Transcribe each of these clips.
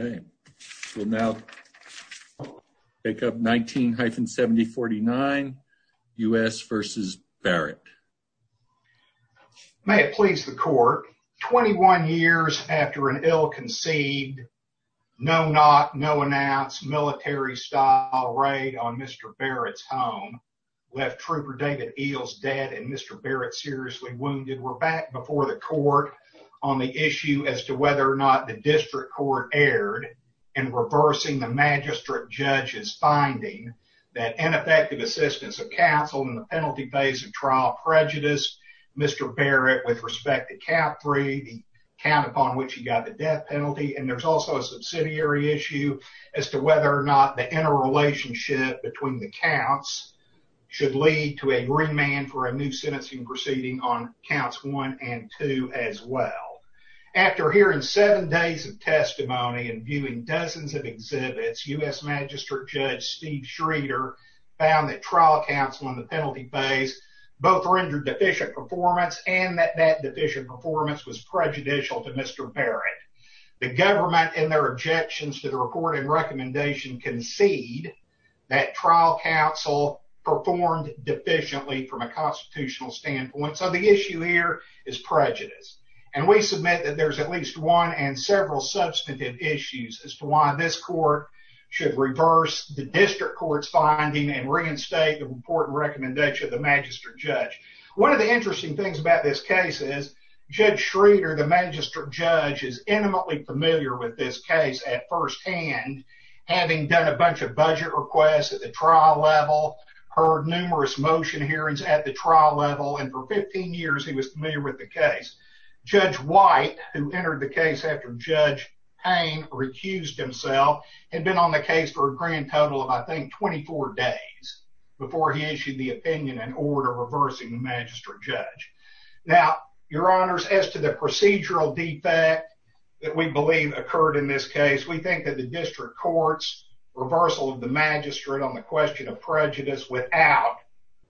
Okay, we'll now pick up 19-7049, U.S. v. Barrett. May it please the court, 21 years after an ill-conceived, no-knock, no-announce, military-style raid on Mr. Barrett's home left Trooper David Eels dead and Mr. Barrett seriously wounded, we're back before the court on the issue as to whether or not the district court erred in reversing the magistrate judge's finding that ineffective assistance of counsel in the penalty phase of trial prejudiced Mr. Barrett with respect to cap three, the count upon which he got the death penalty, and there's also a subsidiary issue as to whether or not the interrelationship between the counts should lead to a green man for a new sentencing proceeding on counts one and two as well. After hearing seven days of testimony and viewing dozens of exhibits, U.S. Magistrate Judge Steve Schroeder found that trial counsel in the penalty phase both rendered deficient performance and that that deficient performance was prejudicial to Mr. Barrett. The government, in their objections to the reporting recommendation, concede that trial counsel performed deficiently from a constitutional standpoint, so the issue here is prejudice, and we submit that there's at least one and several substantive issues as to why this court should reverse the district court's finding and reinstate the important recommendation of the magistrate judge. One of the interesting things about this case is Judge Schroeder, the magistrate judge, is first-hand, having done a bunch of budget requests at the trial level, heard numerous motion hearings at the trial level, and for 15 years he was familiar with the case. Judge White, who entered the case after Judge Payne recused himself, had been on the case for a grand total of, I think, 24 days before he issued the opinion and order reversing the magistrate judge. Now, Your Honors, as to the procedural defect that we believe occurred in this case, we think that the district court's reversal of the magistrate on the question of prejudice without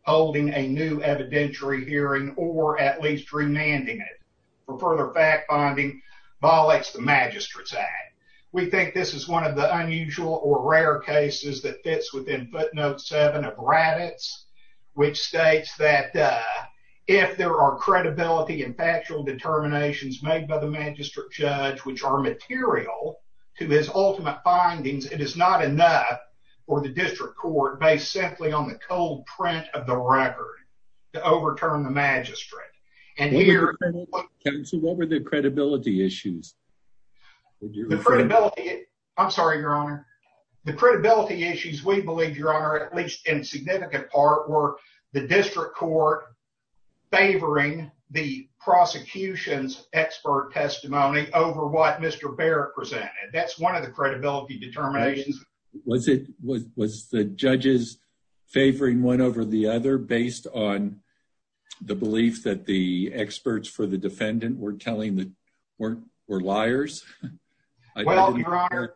holding a new evidentiary hearing or at least remanding it for further fact-finding violates the magistrate's act. We think this is one of the unusual or rare cases that fits within footnote 7 of made by the magistrate judge, which are material to his ultimate findings. It is not enough for the district court, based simply on the cold print of the record, to overturn the magistrate. And here- So what were the credibility issues? The credibility- I'm sorry, Your Honor. The credibility issues, we believe, Your Honor, at least in significant part, were the district court favoring the prosecution's expert testimony over what Mr. Barrett presented. That's one of the credibility determinations. Was it- was the judges favoring one over the other based on the belief that the experts for the defendant were telling that- weren't- were liars? Well, Your Honor,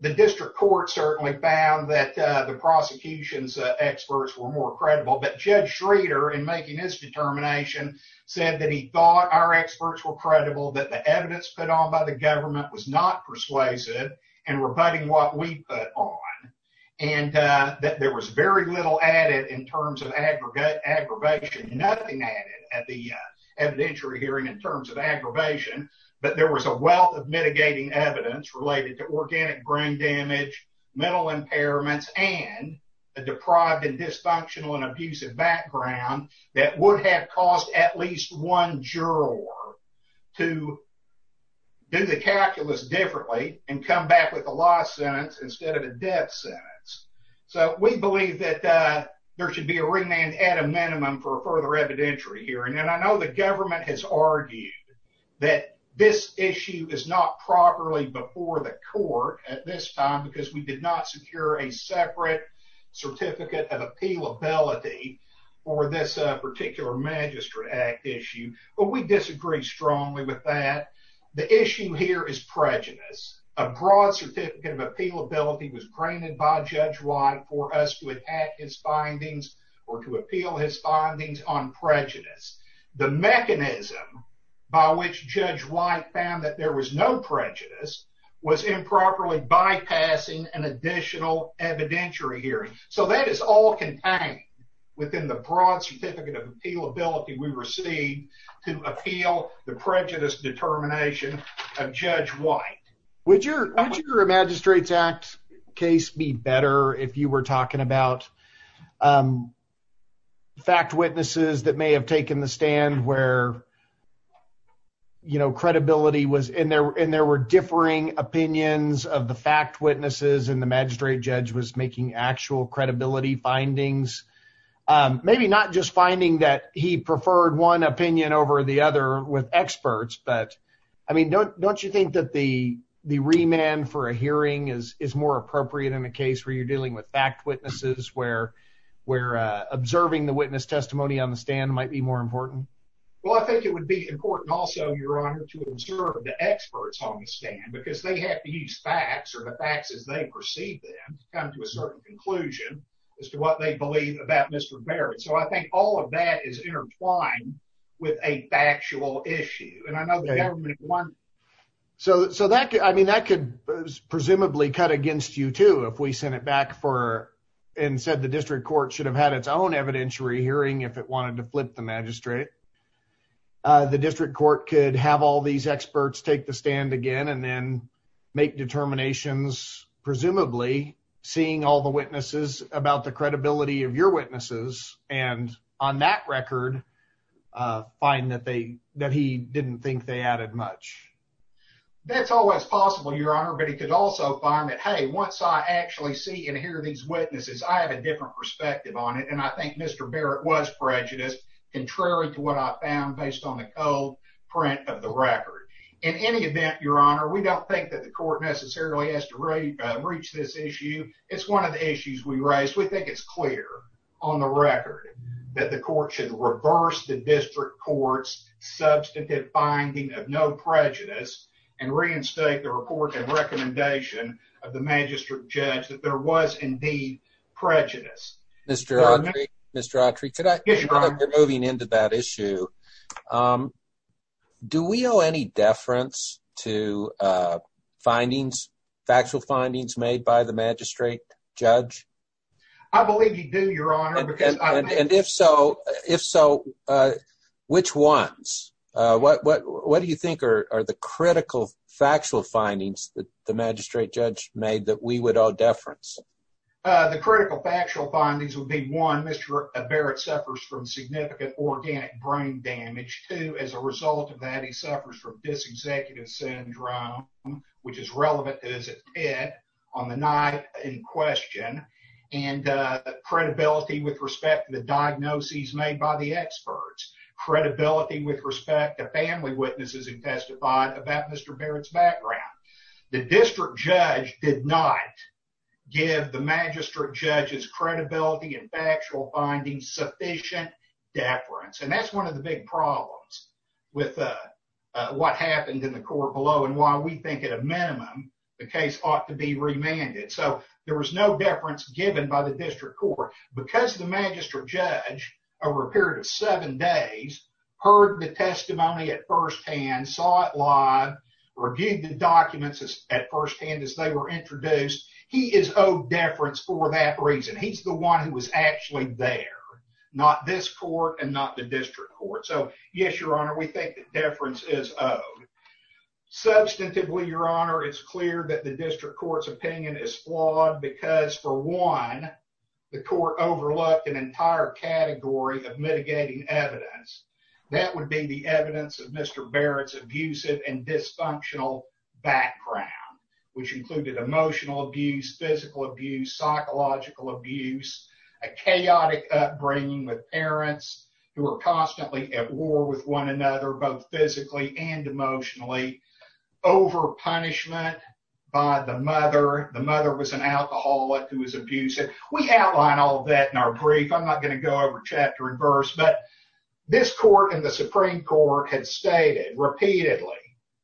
the district court certainly found that the prosecution's experts were more credible, but Judge Schrader, in making his determination, said that he thought our experts were credible, that the evidence put on by the government was not persuasive, and rebutting what we put on, and that there was very little added in terms of aggregate aggravation. Nothing added at the evidentiary hearing in terms of aggravation, but there was a wealth of mitigating evidence related to organic brain damage, mental impairments, and a deprived and dysfunctional and abusive background that would have caused at least one juror to do the calculus differently and come back with a lost sentence instead of a death sentence. So, we believe that there should be a remand at a minimum for a further evidentiary hearing, and I know the government has argued that this issue is not properly before the court at this time, because we did not secure a separate certificate of appealability for this particular Magistrate Act issue, but we disagree strongly with that. The issue here is prejudice. A broad certificate of appealability was granted by Judge White for us to enact his findings or to appeal his findings on prejudice. The mechanism by which Judge White found that there was no prejudice was improperly bypassing an additional evidentiary hearing. So, that is all contained within the broad certificate of appealability we received to appeal the prejudice determination of Judge White. Would your Magistrate's Act case be better if you were talking about fact witnesses that may have taken the overing opinions of the fact witnesses and the magistrate judge was making actual credibility findings? Maybe not just finding that he preferred one opinion over the other with experts, but I mean, don't you think that the remand for a hearing is more appropriate in a case where you're dealing with fact witnesses, where observing the witness testimony on the stand might be more important? Well, I think it would be important also, Your Honor, to observe the experts on the stand because they have to use facts or the facts as they perceive them to come to a certain conclusion as to what they believe about Mr. Barrett. So, I think all of that is intertwined with a factual issue and I know the government wants... So, that could, I mean, that could presumably cut against you too if we sent it back for and said the District Court should have had its own evidentiary hearing if it wanted to flip the magistrate. The District Court could have all these experts take the stand again and then make determinations, presumably, seeing all the witnesses about the credibility of your witnesses and on that record find that they... that he didn't think they added much. That's always possible, Your Honor, but he could also find that, hey, once I actually see and hear these witnesses, I have a different perspective on it and I think Mr. Barrett was prejudiced, contrary to what I found based on the old print of the record. In any event, Your Honor, we don't think that the court necessarily has to reach this issue. It's one of the issues we raised. We think it's clear on the record that the court should reverse the District Court's substantive finding of no prejudice and reinstate the report and recommendation of the magistrate judge that there was indeed prejudice. Mr. Autry, Mr. Autry, moving into that issue, do we owe any deference to findings, factual findings, made by the magistrate judge? I believe you do, Your Honor. And if so, if so, which ones? What do you think are the critical factual findings that the magistrate judge made that we would owe deference? The critical factual findings would be, one, Mr. Barrett suffers from significant organic brain damage. Two, as a result of that, he suffers from dis-executive syndrome, which is relevant as it did on the night in question, and credibility with respect to the diagnoses made by the experts, credibility with respect to family witnesses who testified about Mr. Barrett's background. The district judge did not give the magistrate judge's credibility and factual findings sufficient deference. And that's one of the big problems with what happened in the court below and why we think, at a minimum, the case ought to be remanded. So there was no deference given by the district court because the magistrate judge, over a period of seven days, heard the testimony at firsthand, saw it introduced. He is owed deference for that reason. He's the one who was actually there, not this court and not the district court. So, yes, Your Honor, we think that deference is owed. Substantively, Your Honor, it's clear that the district court's opinion is flawed because, for one, the court overlooked an entire category of mitigating evidence. That would be the evidence of Mr. Barrett's abusive and dysfunctional background, which included emotional abuse, physical abuse, psychological abuse, a chaotic upbringing with parents who are constantly at war with one another, both physically and emotionally, overpunishment by the mother. The mother was an alcoholic who was abusive. We outline all that in our brief. I'm not gonna go over chapter and verse, but this court and the Supreme Court had stated repeatedly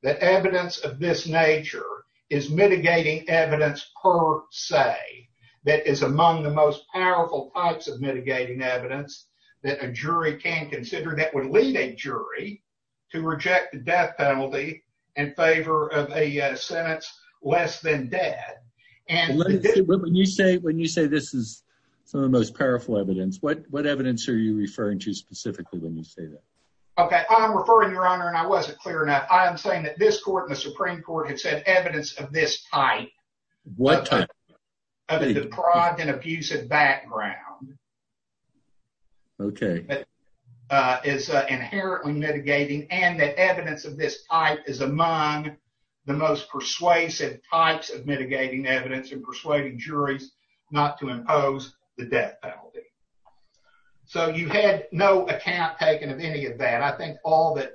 that evidence of this nature is mitigating evidence per se, that is among the most powerful types of mitigating evidence that a jury can consider that would lead a jury to reject the death penalty in favor of a sentence less than dead. And when you say this is some of the most powerful evidence, what evidence are you referring to specifically when you say that? Okay, I'm referring, Your Honor, and I wasn't clear enough. I'm saying that this court and the Supreme Court had said evidence of this type. What type? Of a deprived and abusive background. Okay. Uh, is inherently mitigating and that evidence of this type is among the most persuasive types of mitigating evidence and persuading juries not to impose the death penalty. So you had no account taken of any of that. I think all that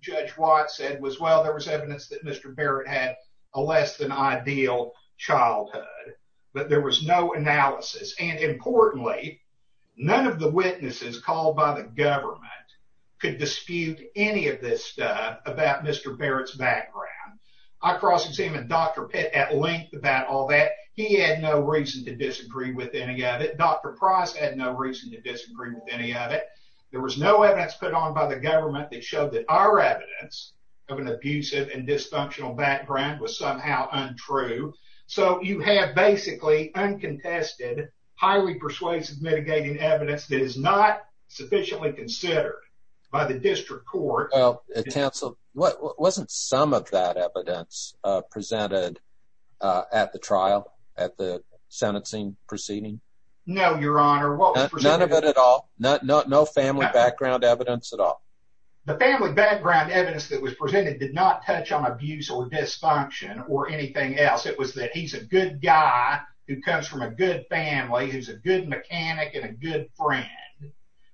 Judge Watt said was well, there was evidence that Mr Barrett had a less than ideal childhood, but there was no analysis. And importantly, none of the witnesses called by the government could dispute any of this stuff about Mr Barrett's background. I cross examine Dr Pitt at length about all that. He had no reason to disagree with any of it. Dr Price had no reason to disagree with any of it. There was no evidence put on by the government that showed that our evidence of an abusive and dysfunctional background was somehow untrue. So you have basically uncontested, highly persuasive, mitigating evidence that is not sufficiently considered by the district court. Council wasn't some of that evidence presented at the trial at the not no family background evidence at all. The family background evidence that was presented did not touch on abuse or dysfunction or anything else. It was that he's a good guy who comes from a good family, who's a good mechanic and a good friend.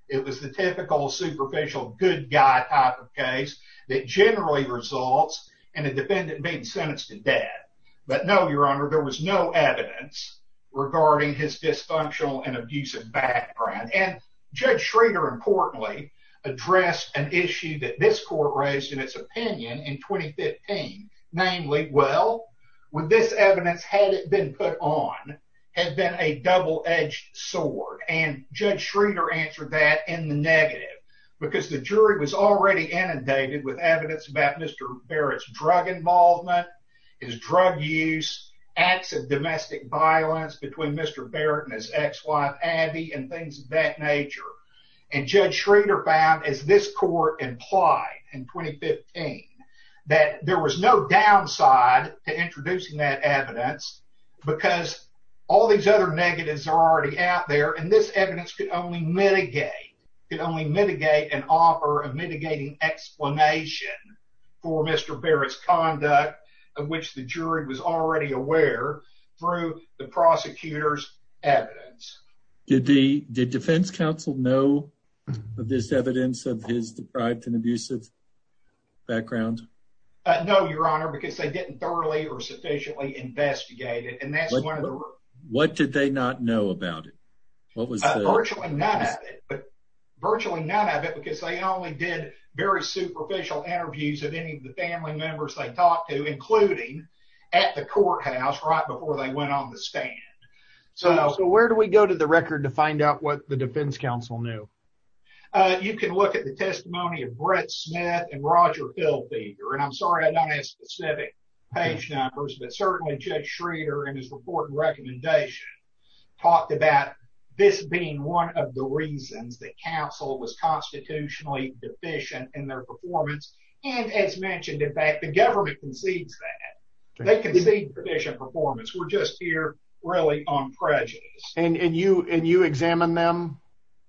It was the typical superficial good guy type of case that generally results in a defendant being sentenced to death. But no, Your Honor, there was no evidence regarding his dysfunctional and abusive background. And Judge Schrader, importantly, addressed an issue that this court raised in its opinion in 2015, namely, well, with this evidence, had it been put on, had been a double edged sword. And Judge Schrader answered that in the negative because the jury was already inundated with evidence about Mr Barrett's drug involvement, his drug use, acts of and things of that nature. And Judge Schrader found, as this court implied in 2015 that there was no downside to introducing that evidence because all these other negatives are already out there. And this evidence could only mitigate could only mitigate an offer of mitigating explanation for Mr Barrett's conduct, of which the jury was already aware through the defense counsel know of this evidence of his deprived and abusive background? No, Your Honor, because they didn't thoroughly or sufficiently investigated. And that's one of the what did they not know about it? What was virtually none of it? But virtually none of it because they only did very superficial interviews of any of the family members they talked to, including at the courthouse right before they went on the stand. So where do we go to the record to find out what the defense counsel knew? You can look at the testimony of Brett Smith and Roger Phil feeder, and I'm sorry I don't have specific page numbers, but certainly Judge Schrader and his report and recommendation talked about this being one of the reasons that counsel was constitutionally deficient in their performance. And as mentioned, in fact, the government concedes that they and you and you examine them.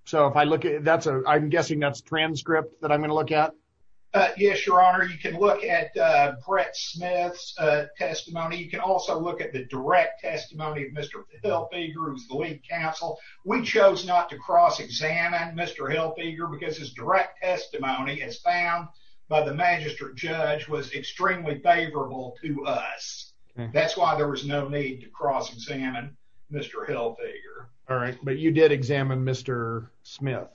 So if I look at that, I'm guessing that's transcript that I'm gonna look at. Yes, Your Honor. You can look at Brett Smith's testimony. You can also look at the direct testimony of Mr Hill figure who's the lead counsel. We chose not to cross examine Mr Hill figure because his direct testimony is found by the magistrate judge was extremely favorable to us. That's why there was no need to cross examine Mr Hill figure. All right, but you did examine Mr Smith.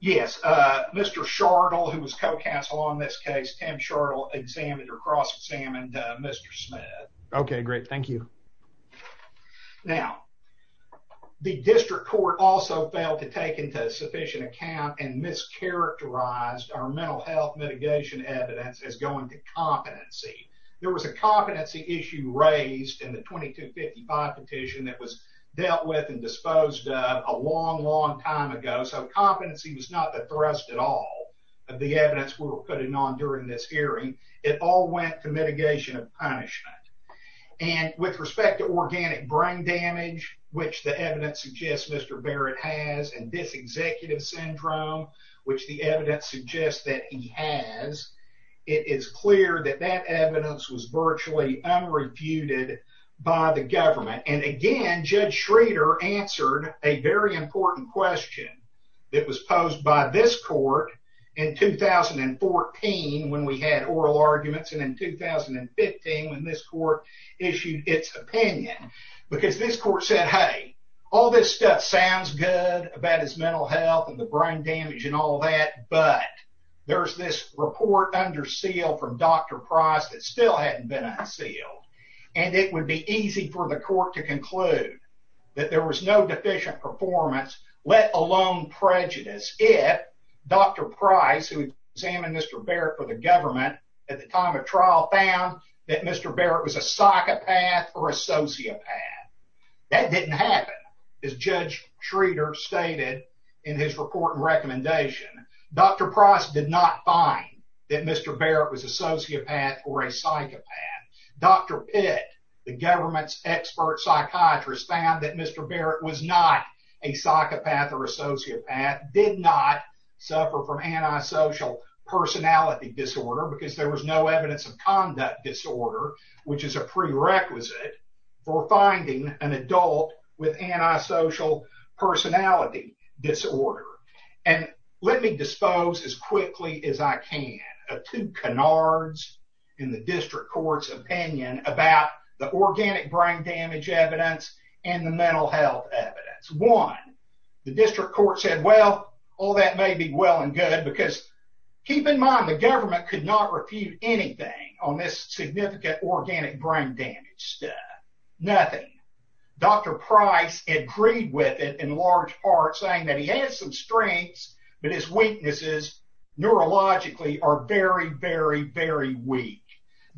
Yes, Mr Chardall, who was co counsel on this case, Tim Chardall examined or cross examined Mr Smith. Okay, great. Thank you. Now, the district court also failed to take into sufficient account and mischaracterized our mental health mitigation evidence is going to competency. There was a competency issue raised in the 22 55 petition that was dealt with and disposed of a long, long time ago. So competency was not the thrust at all of the evidence we were putting on during this hearing. It all went to mitigation of punishment and with respect to organic brain damage, which the evidence suggests Mr Barrett has and this executive syndrome, which the evidence suggests that he has. It is clear that that and Judge Schrader answered a very important question that was posed by this court in 2014 when we had oral arguments and in 2015 when this court issued its opinion because this court said, Hey, all this stuff sounds good about his mental health and the brain damage and all that. But there's this report under seal from Dr Price that still hadn't been unsealed, and it would be easy for the court to conclude that there was no deficient performance, let alone prejudice. If Dr Price, who examined Mr Barrett for the government at the time of trial, found that Mr Barrett was a psychopath or a sociopath, that didn't happen is Judge Schrader stated in his report recommendation. Dr Price did not find that Mr Barrett was a sociopath or a sociopath. The government's expert psychiatrist found that Mr Barrett was not a psychopath or a sociopath, did not suffer from antisocial personality disorder because there was no evidence of conduct disorder, which is a prerequisite for finding an adult with antisocial personality disorder. And let me dispose as quickly as I can of two canards in the district court's opinion about the organic brain damage evidence and the mental health evidence. One, the district court said, Well, all that may be well and good, because keep in mind the government could not refute anything on this significant organic brain damage stuff. Nothing. Dr. Price agreed with it in large part, saying that he has some strengths, but his weaknesses neurologically are very, very, very weak.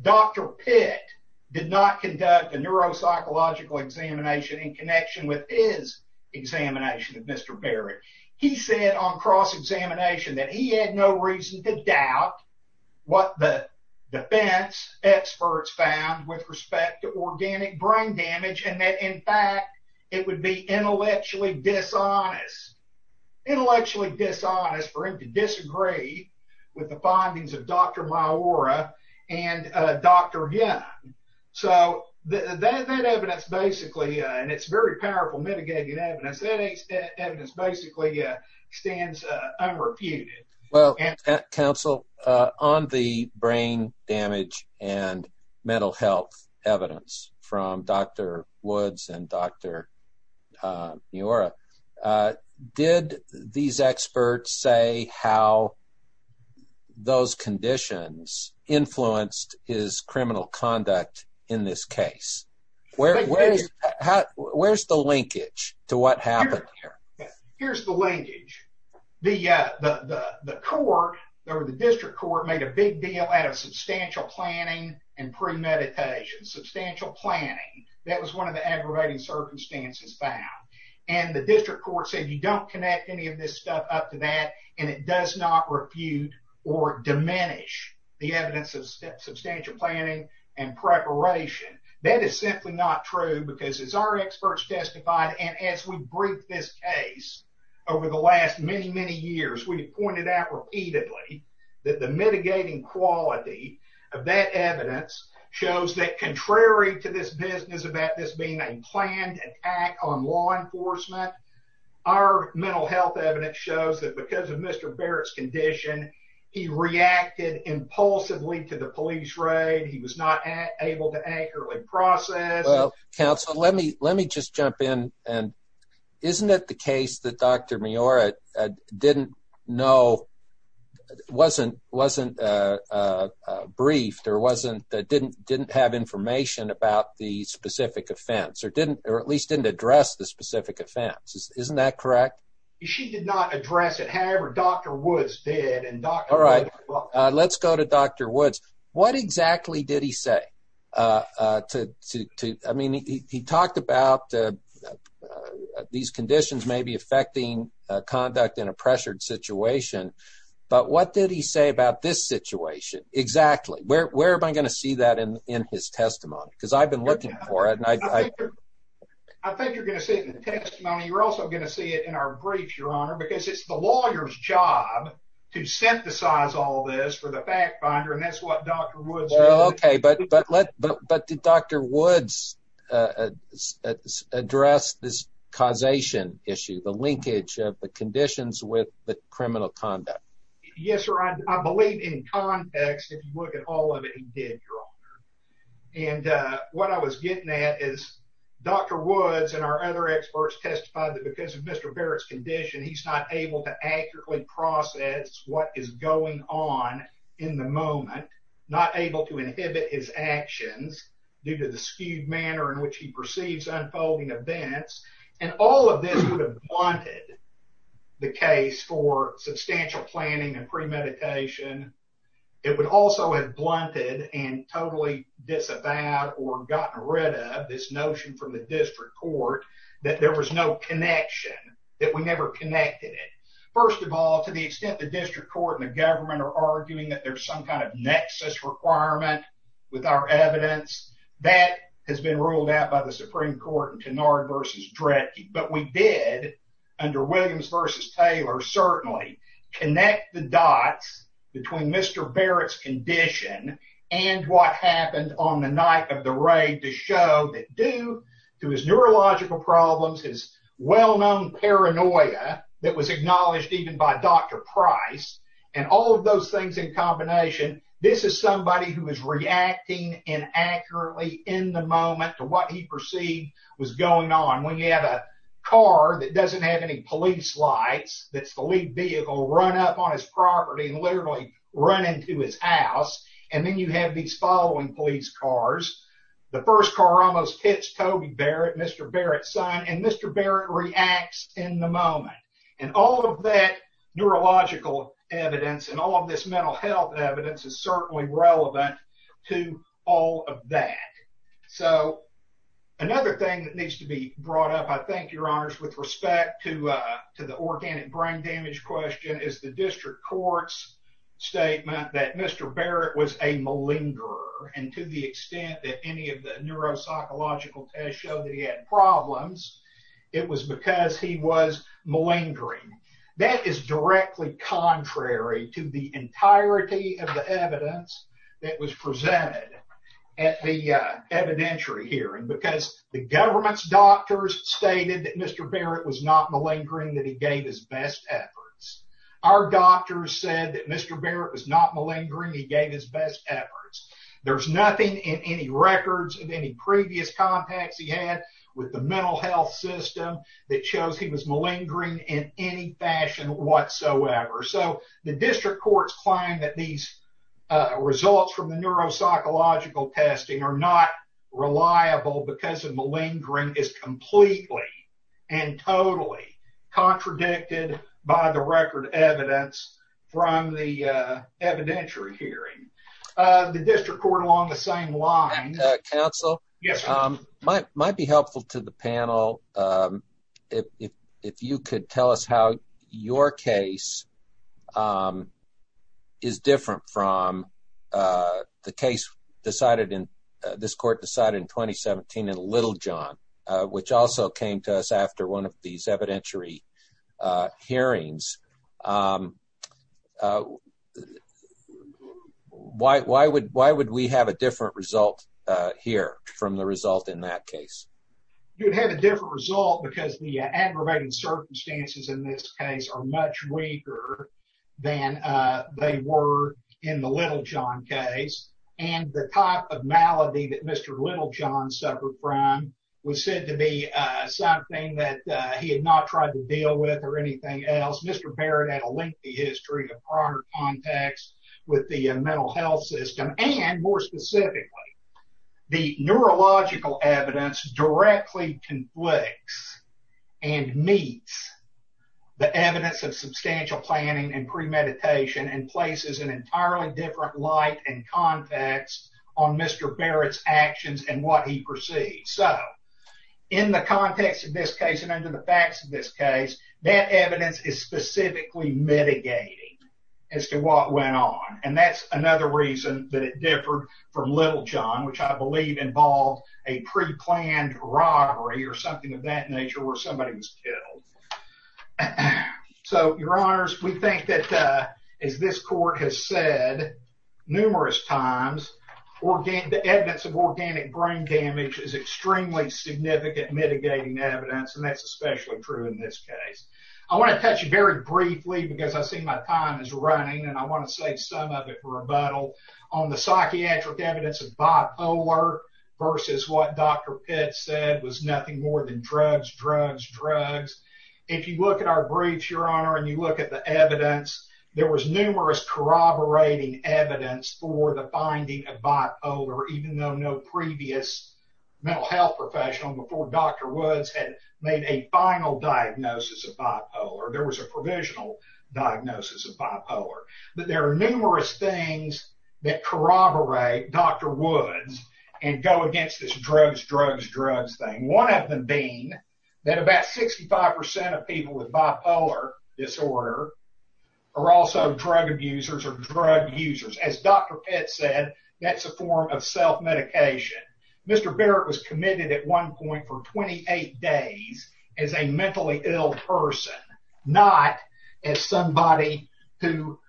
Dr. Pitt did not conduct a neuropsychological examination in connection with his examination of Mr. Barrett. He said on cross-examination that he had no reason to doubt what the defense experts found with respect to organic brain damage and that, in fact, it would be intellectually dishonest. Intellectually dishonest for him to disagree with the findings of Dr. Myura and Dr. Young. So that evidence basically, and it's very powerful mitigating evidence, that evidence basically stands unrefuted. Well, counsel, on the brain damage and mental health evidence from Dr. Woods and Dr. Myura, did these experts say how those conditions influenced his criminal conduct in this case? Where's the linkage to what happened? Here's the linkage. The court, or the district court, made a big deal out of substantial planning and premeditation. Substantial planning. That was one of the aggravating circumstances found. And the district court said you don't connect any of this stuff up to that and it does not refute or diminish the evidence of substantial planning and preparation. That is simply not true because as our experts testified, and as we briefed this case over the last many, many years, we pointed out repeatedly that the mitigating quality of that evidence shows that contrary to this business about this being a planned attack on law enforcement, our mental health evidence shows that because of Mr. Barrett's condition, he reacted impulsively to the police raid. He was not able to accurately process. Well, counsel, let me let me just jump in and isn't it the case that Dr. Myura didn't know, wasn't briefed, or didn't have information about the specific offense, or didn't or at least didn't address the specific offense. Isn't that correct? She did not address it. However, Dr. Woods did. All right, let's go to Dr. Woods. What exactly did he say? I mean, he talked about these conditions may be affecting conduct in a pressured situation, but what did he say about this situation exactly? Where am I going to see that in his testimony? Because I've been looking for it. I think you're going to see it in the testimony. You're also going to see it in our brief, your honor, because it's the lawyer's job to synthesize all this for the fact-finder, and that's what Dr. Woods said. Okay, but did Dr. Woods address this causation issue, the linkage of the conditions with the criminal conduct? Yes, I believe in context, if you look at all of it, he did, your honor, and what I was getting at is Dr. Woods and our other experts testified that because of Mr. Barrett's condition, he's not able to accurately process what is going on in the moment, not able to inhibit his actions due to the skewed manner in which he perceives unfolding events, and all of this would have blunted the case for substantial planning and premeditation. It would also have blunted and totally disavowed or gotten rid of this notion from the district court that there was no connection, that we never connected it. First of all, to the extent the district court and the government are arguing that there's some kind of nexus requirement with our evidence, that has been ruled out by the Supreme Court in Kennard versus Dredge, but we did, under Mr. Barrett's condition, and what happened on the night of the raid, to show that due to his neurological problems, his well-known paranoia that was acknowledged even by Dr. Price, and all of those things in combination, this is somebody who is reacting inaccurately in the moment to what he perceived was going on. When you have a car that doesn't have any police lights, that's the lead vehicle run up on his property and literally run into his house, and then you have these following police cars. The first car almost hits Toby Barrett, Mr. Barrett's son, and Mr. Barrett reacts in the moment, and all of that neurological evidence and all of this mental health evidence is certainly relevant to all of that. So, another thing that needs to be brought up, I think, Your Honors, with respect to the organic brain damage question, is the district court's statement that Mr. Barrett was a malingerer, and to the extent that any of the neuropsychological tests showed that he had problems, it was because he was malingering. That is directly contrary to the entirety of the evidence that was presented at the evidentiary hearing, because the government's doctors stated that Mr. Barrett was not malingering, that he gave his best efforts. Our doctors said that Mr. Barrett was not malingering, he gave his best efforts. There's nothing in any records of any previous contacts he had with the mental health system that shows he was malingering in any fashion whatsoever. So, the district court's claim that these results from the neuropsychological testing are not reliable because of malingering is totally contradicted by the record evidence from the evidentiary hearing. The district court, along the same lines... Counsel? Yes, sir. Might be helpful to the panel if you could tell us how your case is different from the case this court decided in 2017 in Littlejohn, which also came to us after one of these evidentiary hearings. Why would we have a different result here from the result in that case? You'd have a different result because the aggravating circumstances in this case are much weaker than they were in the Littlejohn case, and the type of malady that Mr. Littlejohn suffered from was said to be something that he had not tried to deal with or anything else. Mr. Barrett had a lengthy history of prior contacts with the mental health system, and more specifically, the neurological evidence directly conflicts and meets the evidence of substantial planning and premeditation and places an entirely different light and context on Mr. Barrett's actions and what he perceived. So, in the context of this case and under the facts of this case, that evidence is specifically mitigating as to what went on, and that's another reason that it differed from Littlejohn, which I believe involved a preplanned robbery or something of that nature where somebody was killed. So, your honors, we think that, as this court has said numerous times, the evidence of organic brain damage is extremely significant mitigating evidence, and that's especially true in this case. I want to touch very briefly, because I see my time is running and I want to say some of it for rebuttal, on the psychiatric evidence of bipolar versus what Dr. Pitts said was nothing more than drugs, drugs, drugs. If you look at our briefs, your honor, and you look at the evidence, there was numerous corroborating evidence for the finding of bipolar, even though no previous mental health professional before Dr. Woods had made a final diagnosis of bipolar. There was a provisional diagnosis of bipolar. But there are numerous things that corroborate Dr. Woods and go against this drugs, drugs, drugs thing. One of them being that about 65% of people with bipolar disorder are also drug abusers or drug users. As Dr. Pitts said, that's a form of self-medication. Mr. Barrett was committed at one point for 28 days as a mentally ill person, not as somebody who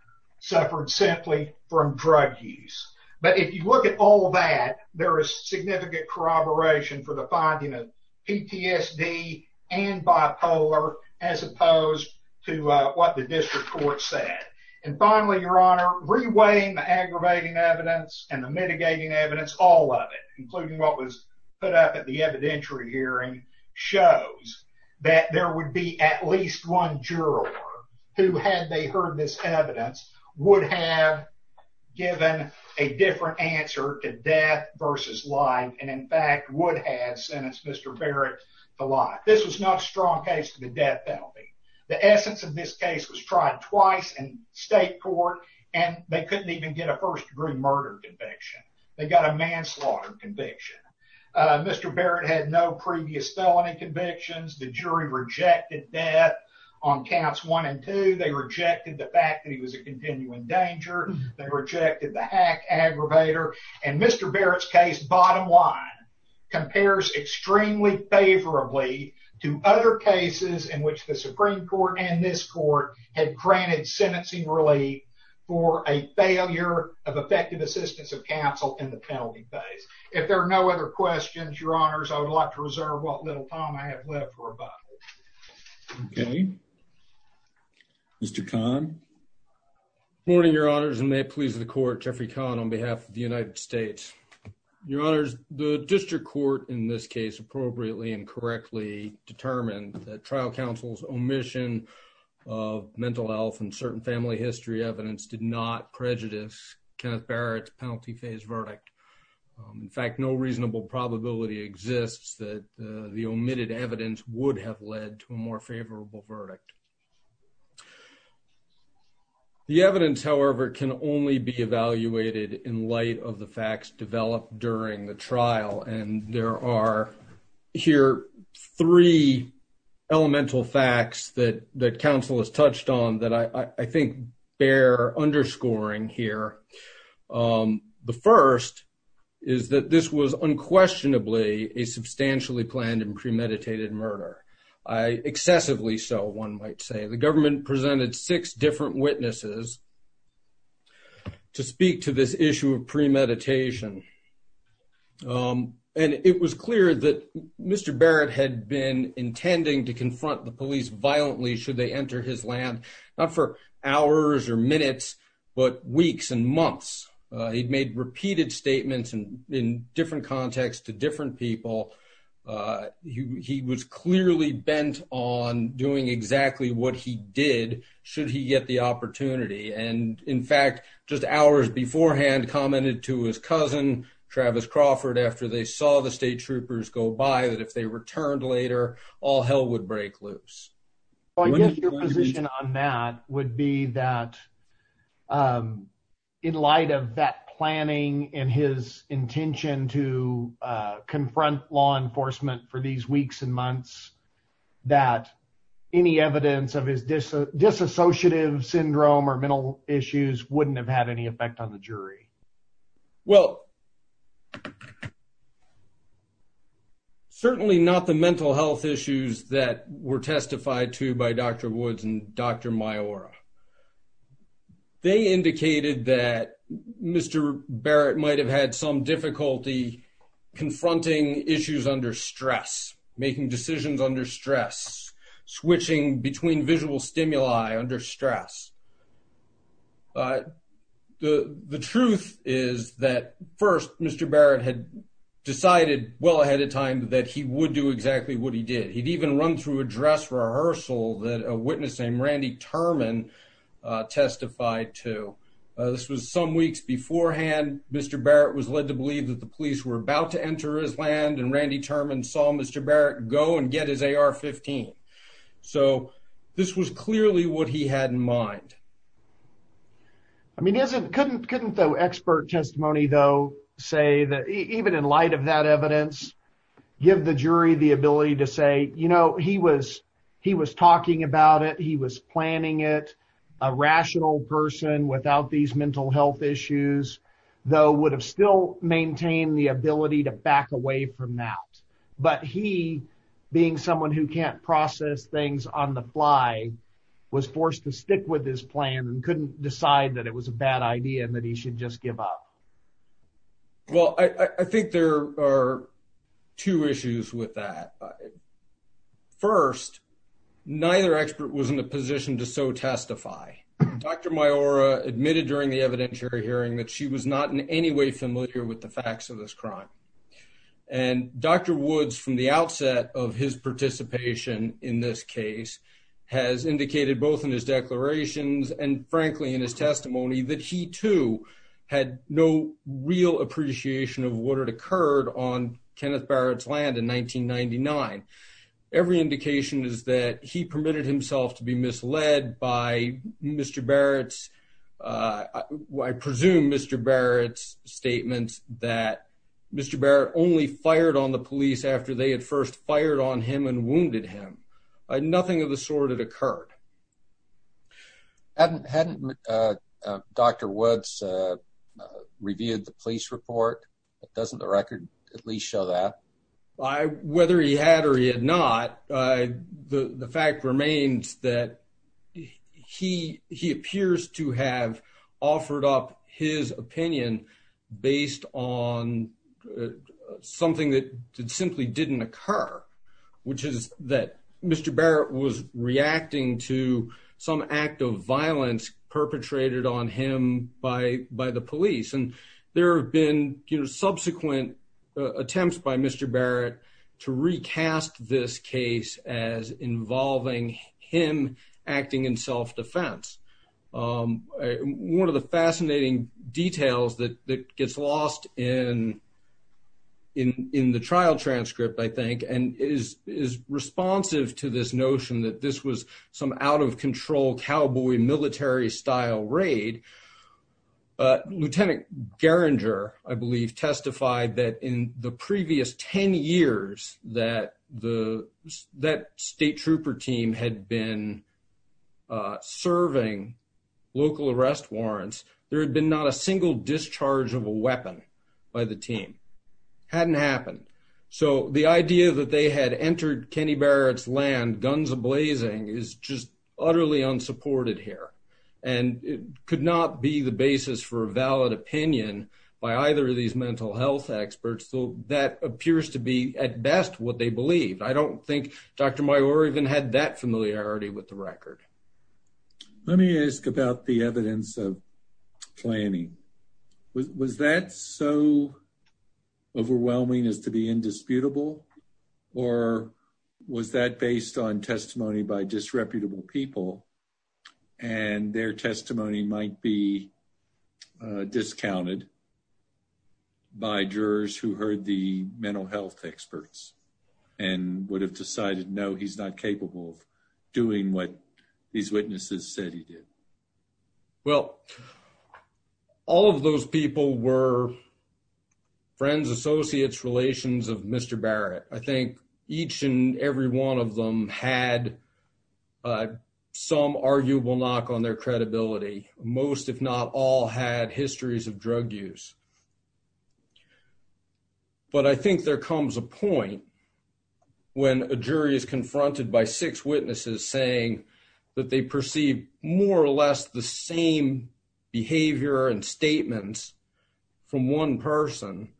suffered simply from drug use. But if you look at all that, there is significant corroboration for the finding of PTSD and bipolar, as opposed to what the evidence, all of it, including what was put up at the evidentiary hearing, shows that there would be at least one juror who, had they heard this evidence, would have given a different answer to death versus life, and in fact would have sentenced Mr. Barrett to life. This was not a strong case for the death penalty. The essence of this case was tried twice in state court, and they couldn't even get a first-degree murder conviction. They got a manslaughter conviction. Mr. Barrett had no previous felony convictions. The jury rejected death on counts one and two. They rejected the fact that he was a continuing danger. They rejected the hack aggravator. And Mr. Barrett's case, bottom line, compares extremely favorably to other cases in which the Supreme Court and this court had granted sentencing relief for a failure of effective assistance of counsel in the penalty phase. If there are no other questions, Your Honors, I would like to reserve what little time I have left for a vote. Okay. Mr. Kahn. Good morning, Your Honors, and may it please the court, Jeffrey Kahn on behalf of the United States. Your Honors, the district court in this case appropriately and correctly determined that trial counsel's omission of mental health and certain family history evidence did not prejudice Kenneth Barrett's penalty phase verdict. In fact, no reasonable probability exists that the omitted evidence would have led to a more favorable verdict. The evidence, however, can only be evaluated in light of the facts developed during the trial. And there are here three elemental facts that that counsel has touched on that I think bear underscoring here. The first is that this was unquestionably a substantially planned and premeditated murder. Excessively so, one might say. The second is this issue of premeditation. And it was clear that Mr. Barrett had been intending to confront the police violently should they enter his land, not for hours or minutes, but weeks and months. He'd made repeated statements and in different contexts to different people. He was clearly bent on doing exactly what he did should he get the opportunity. And in fact, just hours beforehand, commented to his cousin, Travis Crawford, after they saw the state troopers go by that if they returned later, all hell would break loose. I guess your position on that would be that, um, in light of that planning and his intention to confront law enforcement for these weeks and months, that any evidence of his disassociative syndrome or mental issues wouldn't have had any effect on the jury? Well, certainly not the mental health issues that were testified to by Dr. Woods and Dr. Maiora. They indicated that Mr. Barrett might have had some difficulty confronting issues under stress, making decisions under stress, switching between visual stimuli under stress. The truth is that first, Mr. Barrett had decided well ahead of time that he would do exactly what he did. He'd even run through a dress rehearsal that a witness named Randy Turman testified to. This was some weeks beforehand. Mr. Barrett was led to believe that the police were about to enter his land, and Randy Turman saw Mr. Barrett go and get his AR-15. So this was clearly what he had in mind. I mean, couldn't the expert testimony, though, say that even in light of that evidence, give the jury the ability to say, you know, he was he was talking about it. He was planning it. A rational person without these mental health issues, though, would have still maintained the ability to back away from out. But he, being someone who can't process things on the fly, was forced to stick with his plan and couldn't decide that it was a bad idea and that he should just give up. Well, I think there are two issues with that. First, neither expert was in a position to so testify. Dr. Maiora admitted during the evidentiary hearing that she was not in any way familiar with the case. Dr. Woods, from the outset of his participation in this case, has indicated both in his declarations and, frankly, in his testimony that he, too, had no real appreciation of what had occurred on Kenneth Barrett's land in 1999. Every indication is that he permitted himself to be misled by Mr. Barrett's, I presume Mr. Barrett's, statements that Mr. Barrett only fired on the police after they had first fired on him and wounded him. Nothing of the sort had occurred. Hadn't Dr. Woods reviewed the police report? Doesn't the record at least show that? Whether he had or he had not, the fact remains that he appears to have offered up his opinion based on something that simply didn't occur, which is that Mr. Barrett was reacting to some act of violence perpetrated on him by the police. And there have been subsequent attempts by Mr. Barrett to recast this case as involving him acting in self-defense. One of the fascinating details that gets lost in the trial transcript, I think, and is responsive to this notion that this was some out-of-control cowboy military style raid, Lieutenant Geringer, I believe, testified that in the previous 10 years that the state trooper team had been serving local arrest warrants, there had been not a single discharge of a weapon by the team. Hadn't happened. So the idea that they had entered Kenny Barrett's land guns a-blazing is just utterly unsupported here. And it could not be the basis for a valid opinion by either of the jurors to be, at best, what they believed. I don't think Dr. Mayor even had that familiarity with the record. Let me ask about the evidence of planning. Was that so overwhelming as to be indisputable? Or was that based on testimony by disreputable people and their testimony might be discounted by jurors who heard the mental health experts and would have decided, no, he's not capable of doing what these witnesses said he did? Well, all of those people were friends, associates, relations of Mr. Barrett. I Most, if not all, had histories of drug use. But I think there comes a point when a jury is confronted by six witnesses saying that they perceive more or less the same behavior and statements from one person,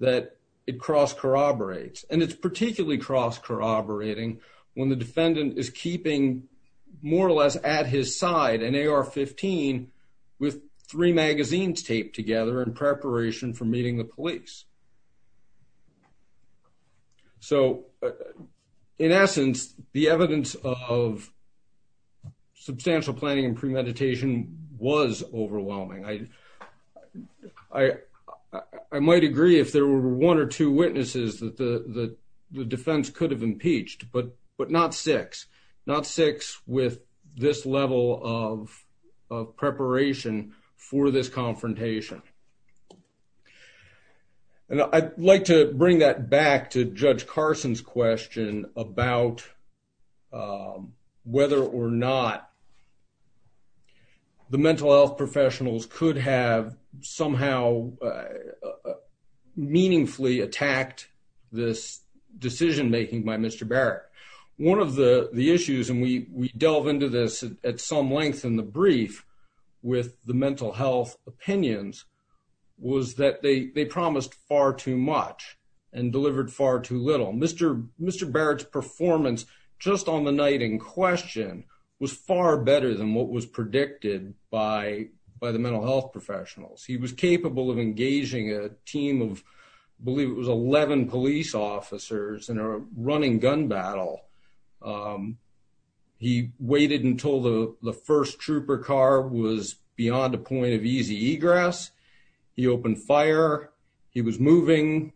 that it cross-corroborates. And it's particularly cross-corroborating when the defendant is keeping more or less at his side, an AR-15, with three magazines taped together in preparation for meeting the police. So, in essence, the evidence of substantial planning and premeditation was overwhelming. I might agree if there were one or two witnesses that the defense could have impeached, but not six. Not six with this level of preparation for this confrontation. And I'd like to bring that back to Judge Carson's question about whether or not the mental health professionals could have somehow meaningfully attacked this decision-making by Mr. Barrett. One of the issues, and we delve into this at some length in the brief with the mental health opinions, was that they promised far too much and delivered far too little. Mr. Barrett's performance just on the night in question was far better than what was predicted by the mental health professionals. He was capable of engaging a team of, I believe it was 11 police officers in a running gun battle. He waited until the first trooper car was beyond a point of easy egress. He opened fire. He was moving,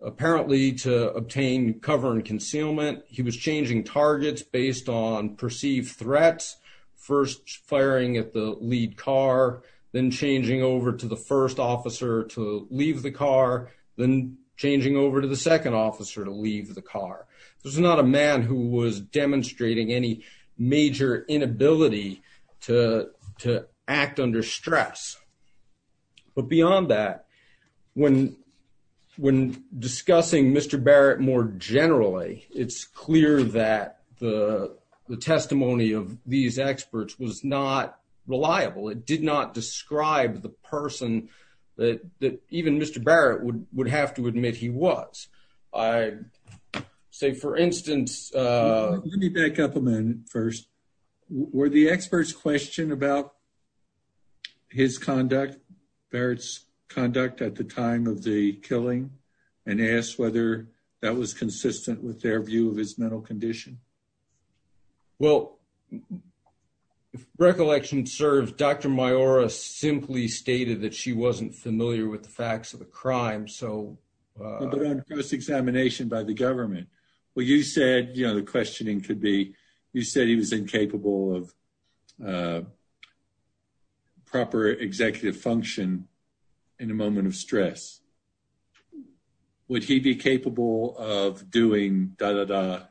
apparently, to obtain cover and it's based on perceived threats. First firing at the lead car, then changing over to the first officer to leave the car, then changing over to the second officer to leave the car. There's not a man who was demonstrating any major inability to act under stress. But beyond that, when discussing Mr. Barrett more generally, it's clear that the testimony of these experts was not reliable. It did not describe the person that even Mr. Barrett would have to admit he was. I say, for instance... Let me back up a minute first. Were the experts' question about his conduct, Barrett's conduct at the time of the killing, and asked whether that was consistent with their view of his mental condition? Well, if recollection serves, Dr. Maiora simply stated that she wasn't familiar with the facts of the crime. But on close examination by the government. Well, you said, you know, the questioning could be, you said he was incapable of proper executive function in a moment of da-da-da,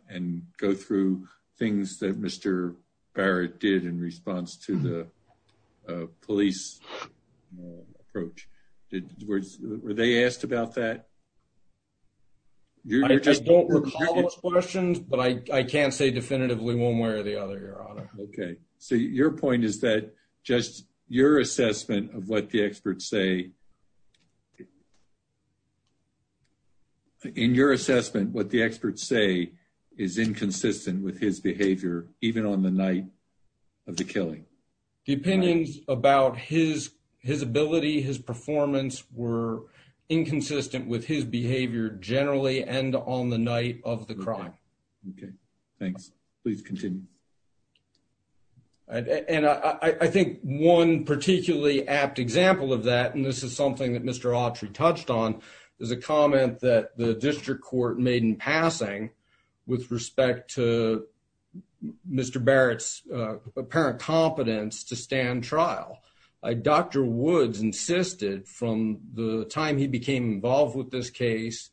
and go through things that Mr. Barrett did in response to the police approach. Were they asked about that? I just don't recall those questions, but I can't say definitively one way or the other, Your Honor. Okay. So your point is that just your assessment of what the experts say, in your assessment, what the experts say is inconsistent with his behavior, even on the night of the killing. The opinions about his ability, his performance were inconsistent with his behavior generally, and on the night of the crime. Okay. Thanks. Please continue. And I think one particularly apt example of that, and this is something that Mr. Autry touched on, there's a comment that the district court made in passing with respect to Mr. Barrett's apparent competence to stand trial. Dr. Woods insisted from the time he became involved with this case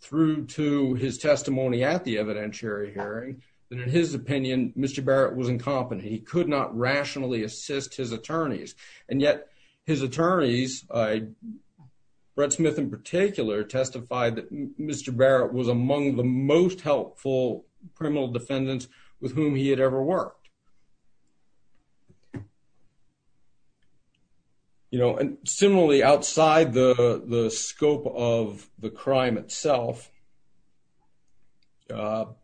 through to his testimony at the evidentiary hearing, that in his opinion, Mr. Barrett was incompetent. He could not rationally assist his attorneys. And yet his attorneys, Brett Smith in particular, testified that Mr. Barrett was among the most helpful criminal defendants with whom he had ever worked. You know, and similarly, outside the scope of the crime itself, Dr.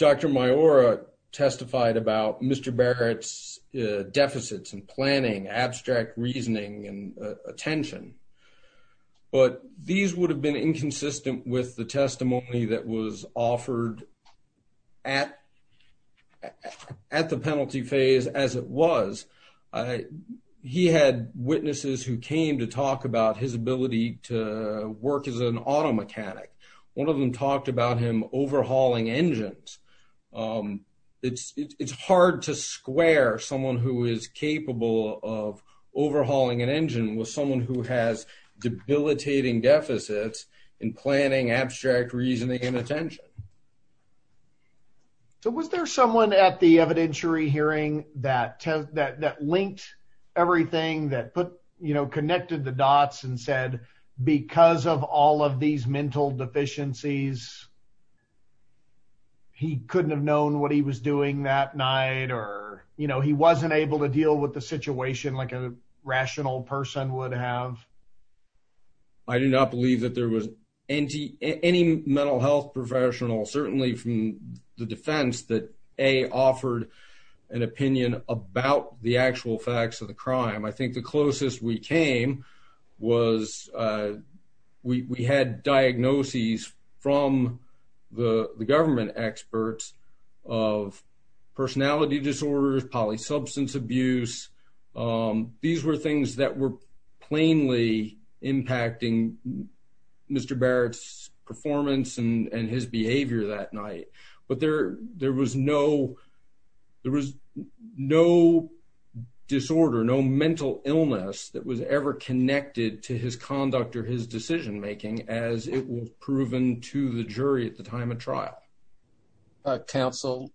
Maiora testified about Mr. Barrett's deficits and planning, abstract reasoning and attention, but these would have been inconsistent with the testimony that was offered at the penalty phase as it was. He had witnesses who came to talk about his ability to work as an auto mechanic. One of them talked about him overhauling engines. It's hard to square someone who is capable of overhauling an engine with someone who has debilitating deficits in planning, abstract reasoning and attention. So was there someone at the evidentiary hearing that that linked everything that connected the dots and said, because of all of these mental deficiencies, he couldn't have known what he was doing that night or, you know, he wasn't able to deal with the situation like a rational person would have? I do not believe that there was any mental health professional, certainly from the defense that A, offered an opinion about the actual facts of the crime. I think the closest we came was we had diagnoses from the government experts of personality disorders, polysubstance abuse. These were things that were plainly impacting Mr. Barrett's performance and his behavior that night. But there there was no there was no disorder, no mental illness that was ever connected to his conduct or his decision making, as it was proven to the jury at the time of trial. Counsel.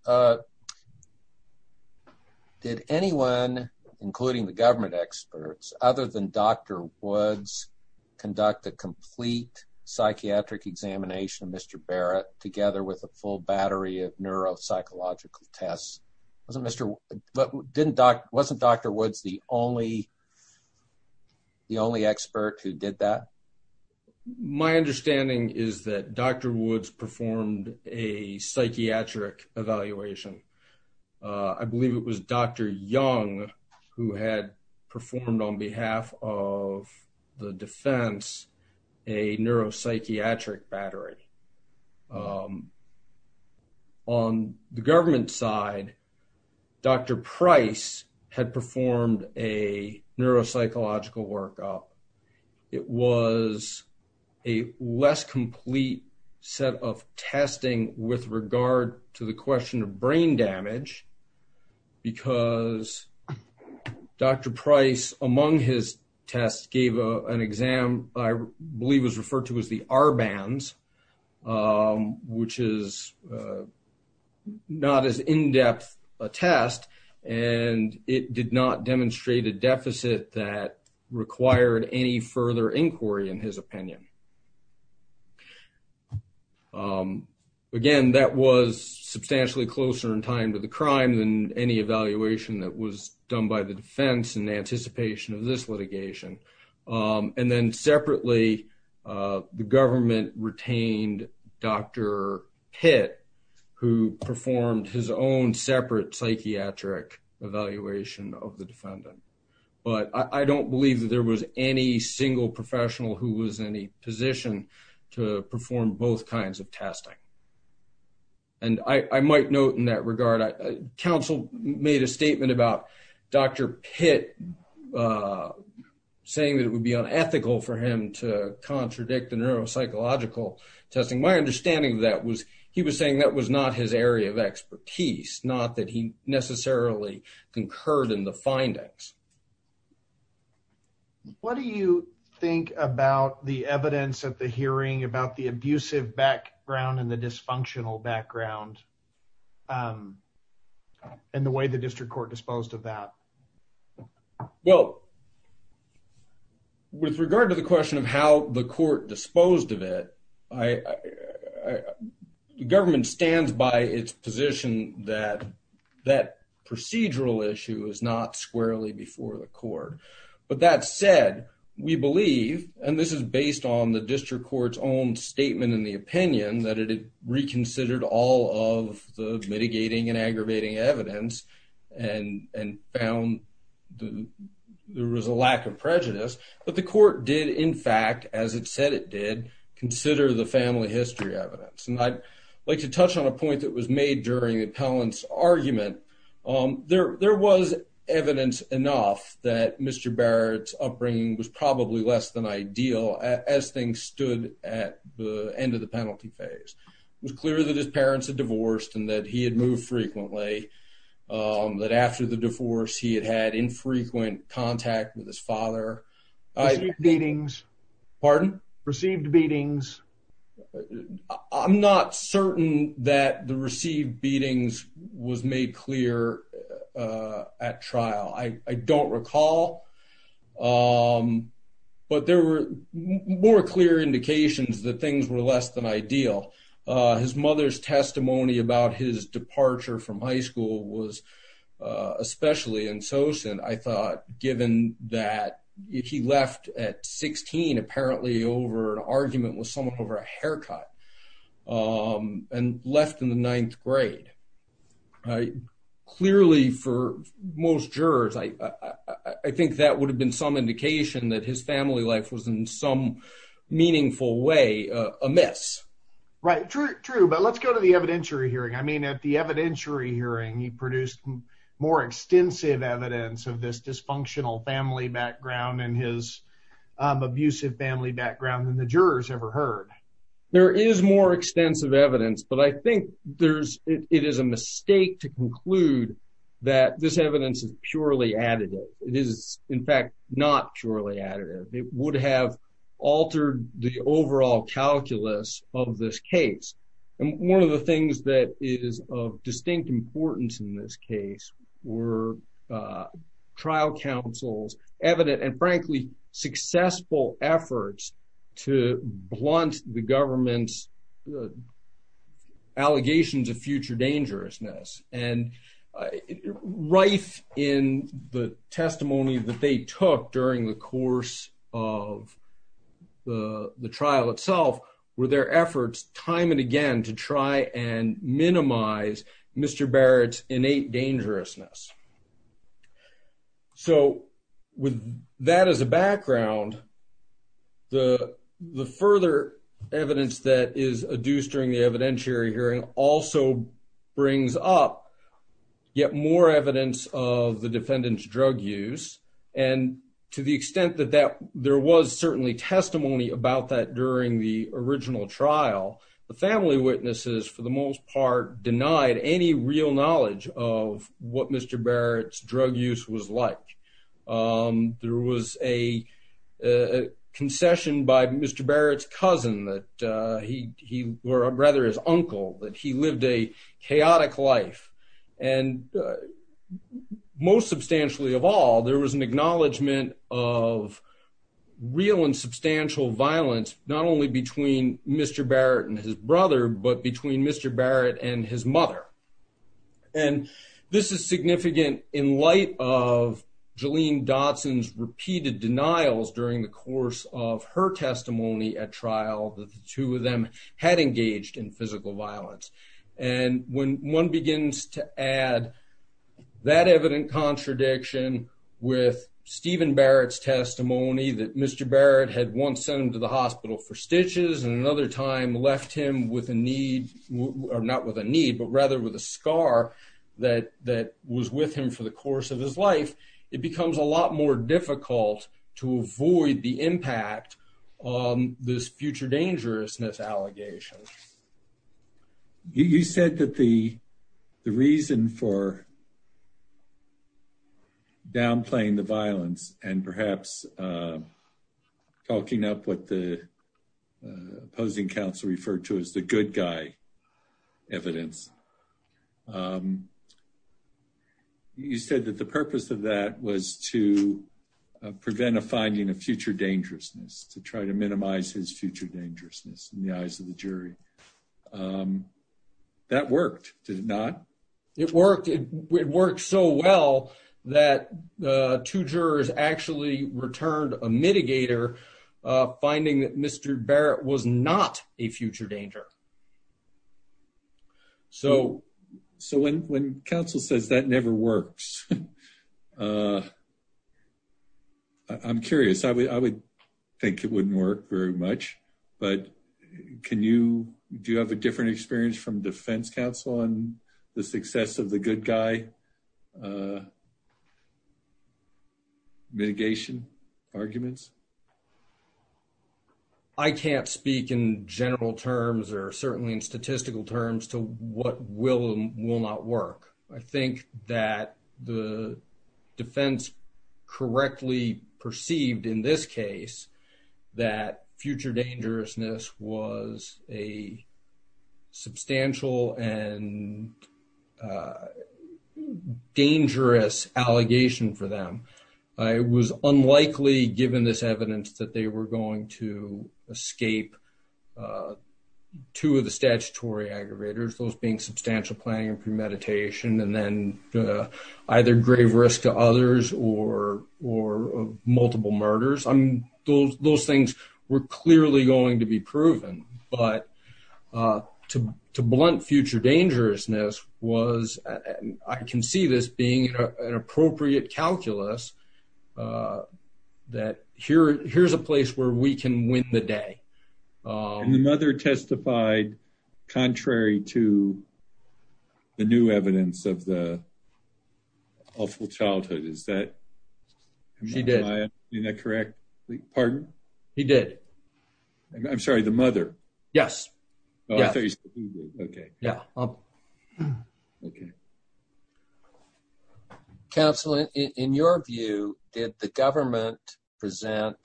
Did anyone, including the government experts other than Dr. Woods, conduct a complete psychiatric examination of Mr. Barrett together with a full battery of neuropsychological tests? Wasn't Mr. But didn't Dr. Wasn't Dr. Woods the only. The only expert who did that, my understanding is that Dr. Woods performed a psychiatric evaluation. I believe it was Dr. Young who had performed on behalf of the defense, a neuropsychiatric battery. Um. On the government side, Dr. Price had performed a neuropsychological workup. It was a less complete set of testing with regard to the question of brain damage because Dr. Price, among his tests, gave an exam I believe was referred to as the R bands. Um, which is, uh, not as in-depth a test and it did not demonstrate a deficit that required any further inquiry in his opinion. Um, again, that was substantially closer in time to the crime than any evaluation that was done by the defense in anticipation of this litigation. Um, and then separately, uh, the government retained Dr. Pitt, who performed his own separate psychiatric evaluation of the defendant. But I don't believe that there was any single professional who was in a position to perform both kinds of testing. And I might note in that regard, council made a statement about Dr. Pitt, uh, saying that it would be unethical for him to contradict the neuropsychological testing. My understanding of that was he was saying that was not his area of expertise, not that he necessarily concurred in the findings. What do you think about the evidence at the hearing about the abusive background and the dysfunctional background, um, and the way the district court disposed of that? Well, with regard to the question of how the court disposed of it, I, the government stands by its position that that procedural issue is not squarely before the court, but that said, we believe, and this is based on the district court's own statement in the opinion that it reconsidered all of the mitigating and found the, there was a lack of prejudice, but the court did in fact, as it said, it did consider the family history evidence. And I'd like to touch on a point that was made during the appellant's argument. Um, there, there was evidence enough that Mr. Barrett's upbringing was probably less than ideal as things stood at the end of the penalty phase. It was clear that his parents had divorced and that he had moved frequently. Um, that after the divorce, he had had infrequent contact with his father. Received beatings. Pardon? Received beatings. I'm not certain that the received beatings was made clear, uh, at trial. I don't recall. Um, but there were more clear indications that things were less than ideal. Uh, his mother's testimony about his departure from high school was, uh, especially in Sosen, I thought, given that if he left at 16, apparently over an argument with someone over a haircut, um, and left in the ninth grade, uh, clearly for most jurors, I, I think that would have been some indication that his family life was in some meaningful way, uh, amiss. Right. True, true. But let's go to the evidentiary hearing. I mean, at the evidentiary hearing, he produced more extensive evidence of this dysfunctional family background and his, um, abusive family background than the jurors ever heard. There is more extensive evidence, but I think there's, it is a mistake to conclude that this evidence is purely additive. It is in fact, not purely additive. It would have altered the overall calculus of this case. And one of the things that is of distinct importance in this case were, uh, trial counsels, evident and frankly successful efforts to blunt the government's allegations of future dangerousness. And, uh, rife in the testimony that they took during the course of the, the trial itself were their efforts time and again to try and minimize Mr. Barrett's innate dangerousness. So with that as a background, the, the further evidence that is adduced during the evidentiary hearing also brings up yet more evidence of the defendant's drug use and to the extent that that there was certainly testimony about that during the original trial, the family witnesses for the most part denied any real knowledge of what Mr. Barrett's drug use was like. Um, there was a, uh, concession by Mr. Barrett's cousin that, uh, he, he, or rather his uncle, that he lived a chaotic life and, uh, most substantially of all, there was an acknowledgement of real and substantial violence, not only between Mr. Barrett and his brother, but between Mr. Barrett and his mother. And this is significant in light of Jalene Dodson's repeated denials during the course of her testimony at trial that the two of them had engaged in physical violence. And when one begins to add that evident contradiction with Stephen Barrett's testimony that Mr. Barrett had once sent him to the hospital for stitches and another time left him with a need or not with a need, but rather with a scar that, that was with him for the course of his life, it becomes a lot more difficult to avoid the impact on this future dangerousness allegation. You said that the, the reason for downplaying the violence and perhaps, um, talking up what the, uh, opposing counsel referred to as the good guy evidence, um, you said that the purpose of that was to prevent a finding of future dangerousness to try to minimize his future dangerousness in the eyes of the jury. Um, that worked, did it not? It worked. It worked so well that, uh, two jurors actually returned a mitigator, uh, finding that Mr. Barrett was not a future danger. So, so when, when counsel says that never works, uh, I'm curious, I would, I would think it wouldn't work very much, but can you, do you have a different experience from defense counsel on the success of the good guy, uh, mitigation arguments? I can't speak in general terms or certainly in statistical terms to what will and will not work. I think that the defense correctly perceived in this case that future dangerousness was a substantial and, uh, dangerous allegation for them. I was unlikely given this evidence that they were going to escape, uh, two of the statutory aggravators, those being substantial planning and premeditation, and then, uh, either grave risk to others or, or multiple murders. I mean, those, those things were clearly going to be proven, but, uh, to, to us, uh, that here, here's a place where we can win the day. Um, And the mother testified contrary to the new evidence of the awful childhood. Is that, is that correct? Pardon? He did. I'm sorry. The mother. Yes. Oh, I thought you said he did. Okay. Yeah. Okay. Okay. Counselor, in your view, did the government present,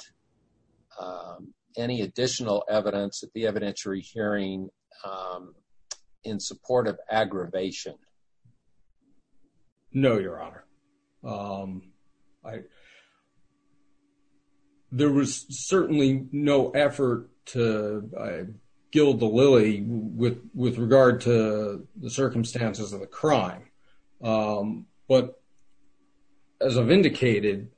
um, any additional evidence at the evidentiary hearing, um, in support of aggravation? No, Your Honor. Um, I, there was certainly no effort to gild the lily with, with regard to the crime, um, but as I've indicated,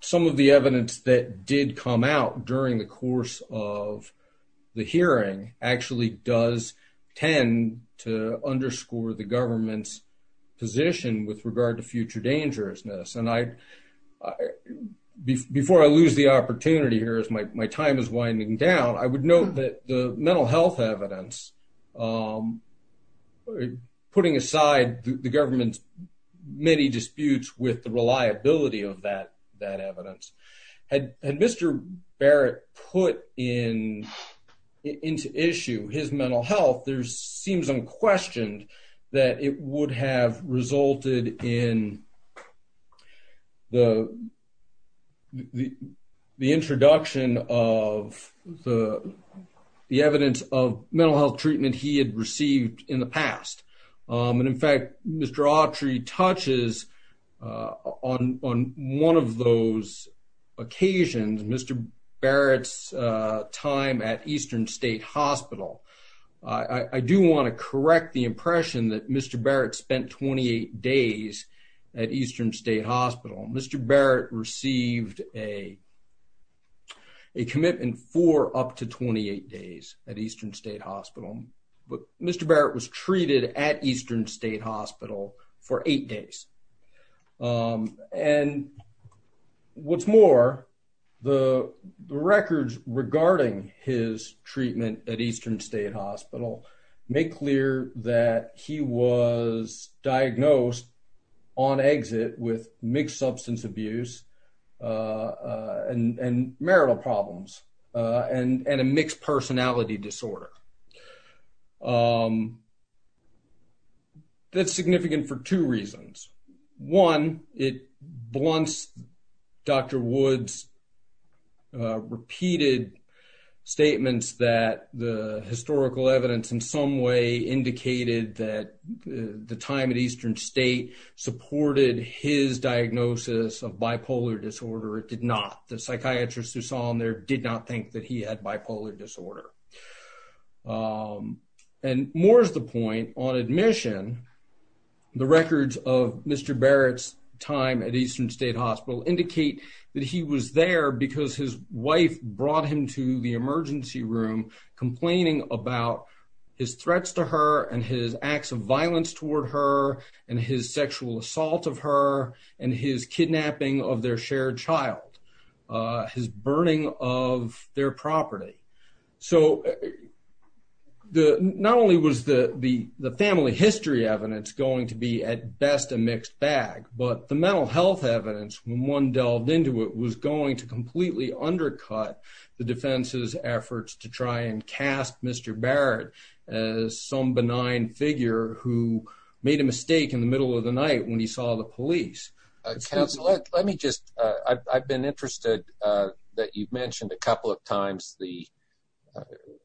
some of the evidence that did come out during the course of the hearing actually does tend to underscore the government's position with regard to future dangerousness. And I, before I lose the opportunity here, as my, my time is winding down, I putting aside the government's many disputes with the reliability of that, that evidence. Had, had Mr. Barrett put in, into issue his mental health, there's seems unquestioned that it would have resulted in the, the, the introduction of the, the evidence of the, the crime that he has witnessed. Um, and in fact, Mr. Autry touches, uh, on, on one of those occasions, Mr. Barrett's, uh, time at Eastern State Hospital. I do want to correct the impression that Mr. Barrett spent 28 days at Eastern State Hospital. Mr. Barrett received a, a commitment for up to 28 days at Eastern State Hospital. But Mr. Barrett was treated at Eastern State Hospital for eight days. Um, and what's more, the records regarding his treatment at Eastern State Hospital make clear that he was diagnosed on exit with mixed substance abuse, uh, uh, and, and marital problems, uh, and, and a mixed personality disorder. Um, that's significant for two reasons. One, it blunts Dr. Wood's, uh, repeated statements that the historical evidence in some way indicated that the time at Eastern State supported his diagnosis of bipolar disorder. It did not. The psychiatrist who saw him there did not think that he had bipolar disorder. Um, and more is the point on admission, the records of Mr. Barrett's time at Eastern State Hospital indicate that he was there because his wife brought him to the emergency room complaining about his threats to her and his acts of violence toward her and his sexual assault of her and his kidnapping of their shared child, uh, his burning of their property. So the, not only was the, the, the family history evidence going to be at best a mixed bag, but the mental health evidence when one delved into it was going to completely undercut the defense's efforts to try and cast Mr. Barrett as some benign figure who made a mistake in the middle of the night when he saw the police. Uh, counsel, let me just, uh, I've, I've been interested, uh, that you've mentioned, uh,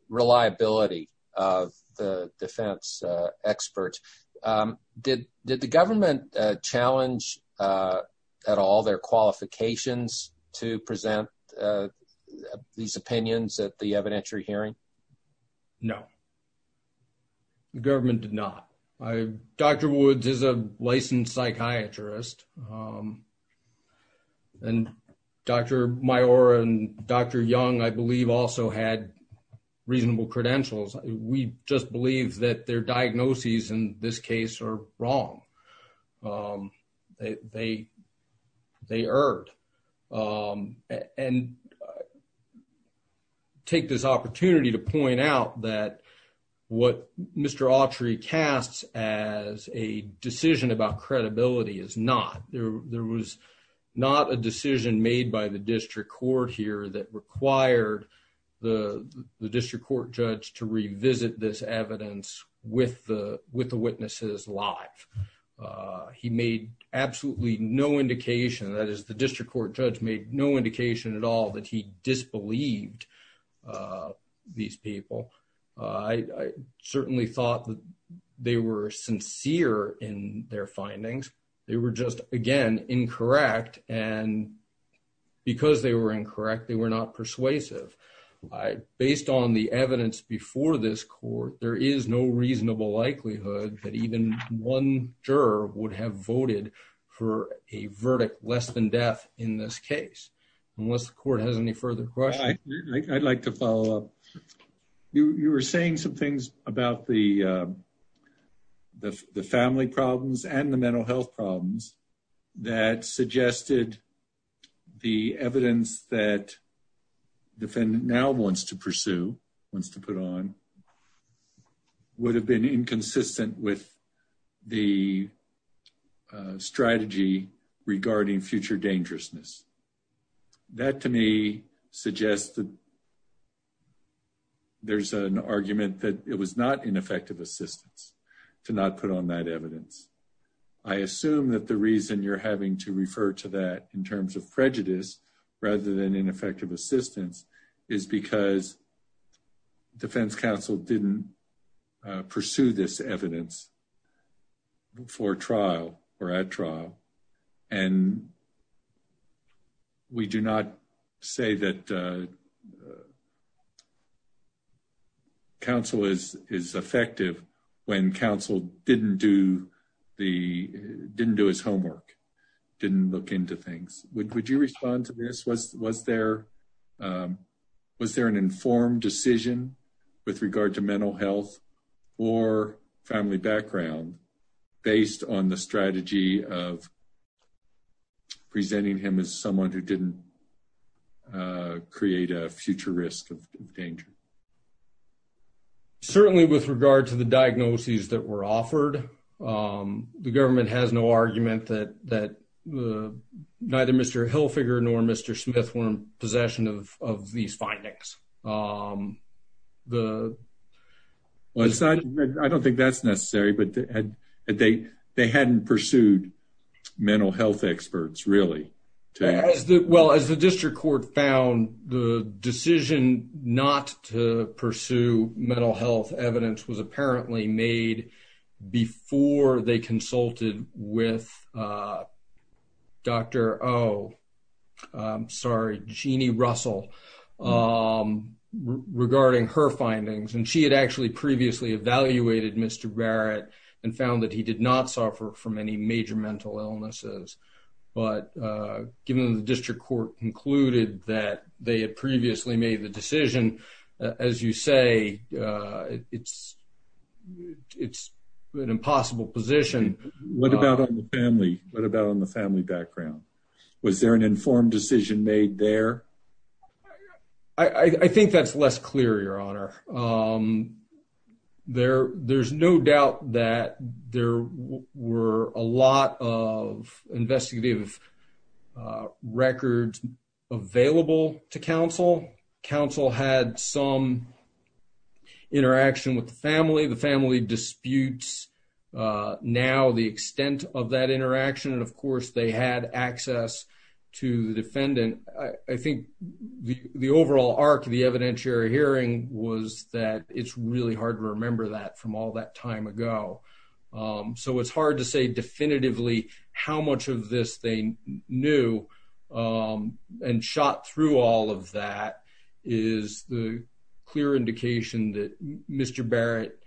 reliability of the defense, uh, experts. Um, did, did the government, uh, challenge, uh, at all their qualifications to present, uh, these opinions at the evidentiary hearing? No, the government did not. I, Dr. Woods is a licensed psychiatrist. Um, and Dr. Maiora and Dr. Young, I believe also had reasonable credentials. We just believe that their diagnoses in this case are wrong. Um, they, they, they erred. Um, and I take this opportunity to point out that what Mr. Autry casts as a decision about credibility is not, there, there was not a decision made by the district court here that required the district court judge to revisit this evidence with the, with the witnesses live. Uh, he made absolutely no indication that is the district court judge made no indication at all that he disbelieved, uh, these people. Uh, I, I certainly thought that they were sincere in their findings. They were just, again, incorrect. And because they were incorrect, they were not persuasive. I, based on the evidence before this court, there is no reasonable likelihood that even one juror would have voted for a verdict less than death in this case, unless the court has any further questions. I'd like to follow up. You, you were saying some things about the, uh, the, the family problems and the mental health problems that suggested the evidence that defendant now wants to pursue, wants to put on, would have been inconsistent with the, uh, strategy regarding future dangerousness. That to me suggests that there's an argument that it was not ineffective assistance to not put on that evidence. I assume that the reason you're having to refer to that in terms of prejudice rather than ineffective assistance is because defense counsel didn't pursue this evidence for trial or at trial. And we do not say that, uh, counsel is, is effective when counsel didn't do the, didn't do his homework, didn't look into things. Would, would you respond to this? Was, was there, um, was there an informed decision with regard to mental health or family background based on the strategy of presenting him as someone who didn't, uh, create a future risk of danger? Certainly with regard to the diagnoses that were offered, um, the government has no argument that, that the, neither Mr. Hilfiger nor Mr. Smith were in possession of, of these findings. Um, the. Well, it's not, I don't think that's necessary, but they hadn't pursued mental health experts really. Well, as the district court found the decision not to pursue mental health evidence was apparently made before they consulted with, uh, Dr. Oh, I'm sorry, Jeannie Russell. Um, regarding her findings. And she had actually previously evaluated Mr. Barrett and found that he did not suffer from any major mental illnesses. But, uh, given the district court concluded that they had previously made the decision, as you say, uh, it's, it's an impossible position. What about on the family? What about on the family background? Was there an informed decision made there? I think that's less clear, Your Honor. Um, there, there's no doubt that there were a lot of investigative, uh, records available to counsel. Counsel had some interaction with the family. The family disputes, uh, now the extent of that interaction. And of course they had access to the defendant. I think the overall arc of the evidentiary hearing was that it's really hard to remember that from all that time ago. Um, so it's hard to say definitively how much of this they knew. Um, and shot through all of that is the clear indication that Mr. Barrett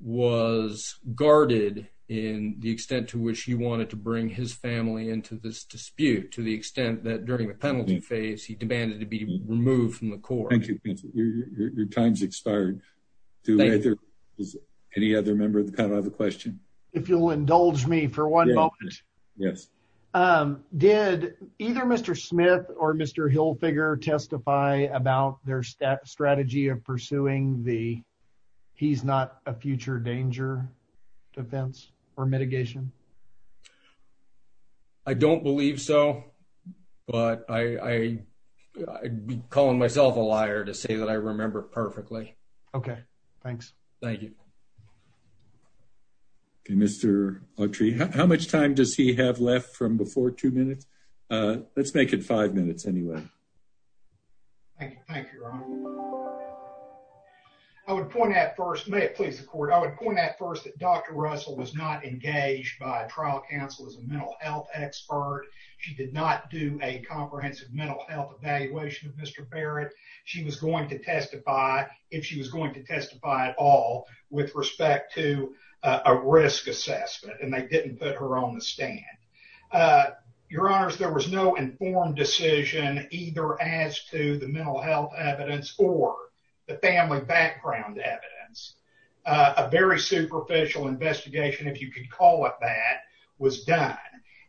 was guarded in the extent to which he wanted to bring his family into this dispute to the extent that during the penalty phase, he demanded to be removed from the court. Thank you. Your time's expired. Do any other member of the panel have a question? If you'll indulge me for one moment, um, did either Mr. Smith or Mr. Hilfiger testify about their strategy of pursuing the he's not a future danger defense or mitigation? I don't believe so, but I, I, I'd be calling myself a liar to say that I remember perfectly. Okay. Thanks. Thank you. Okay. Mr. Autry, how much time does he have left from before two minutes? Uh, let's make it five minutes anyway. Thank you. Thank you. I would point out first, may it please the court. I would point out first that Dr. Health expert, she did not do a comprehensive mental health evaluation of Mr. Barrett. She was going to testify if she was going to testify at all with respect to a risk assessment and they didn't put her on the stand. Uh, your honors, there was no informed decision either as to the mental health evidence or the family background evidence. Uh, a very superficial investigation, if you could call it, that was done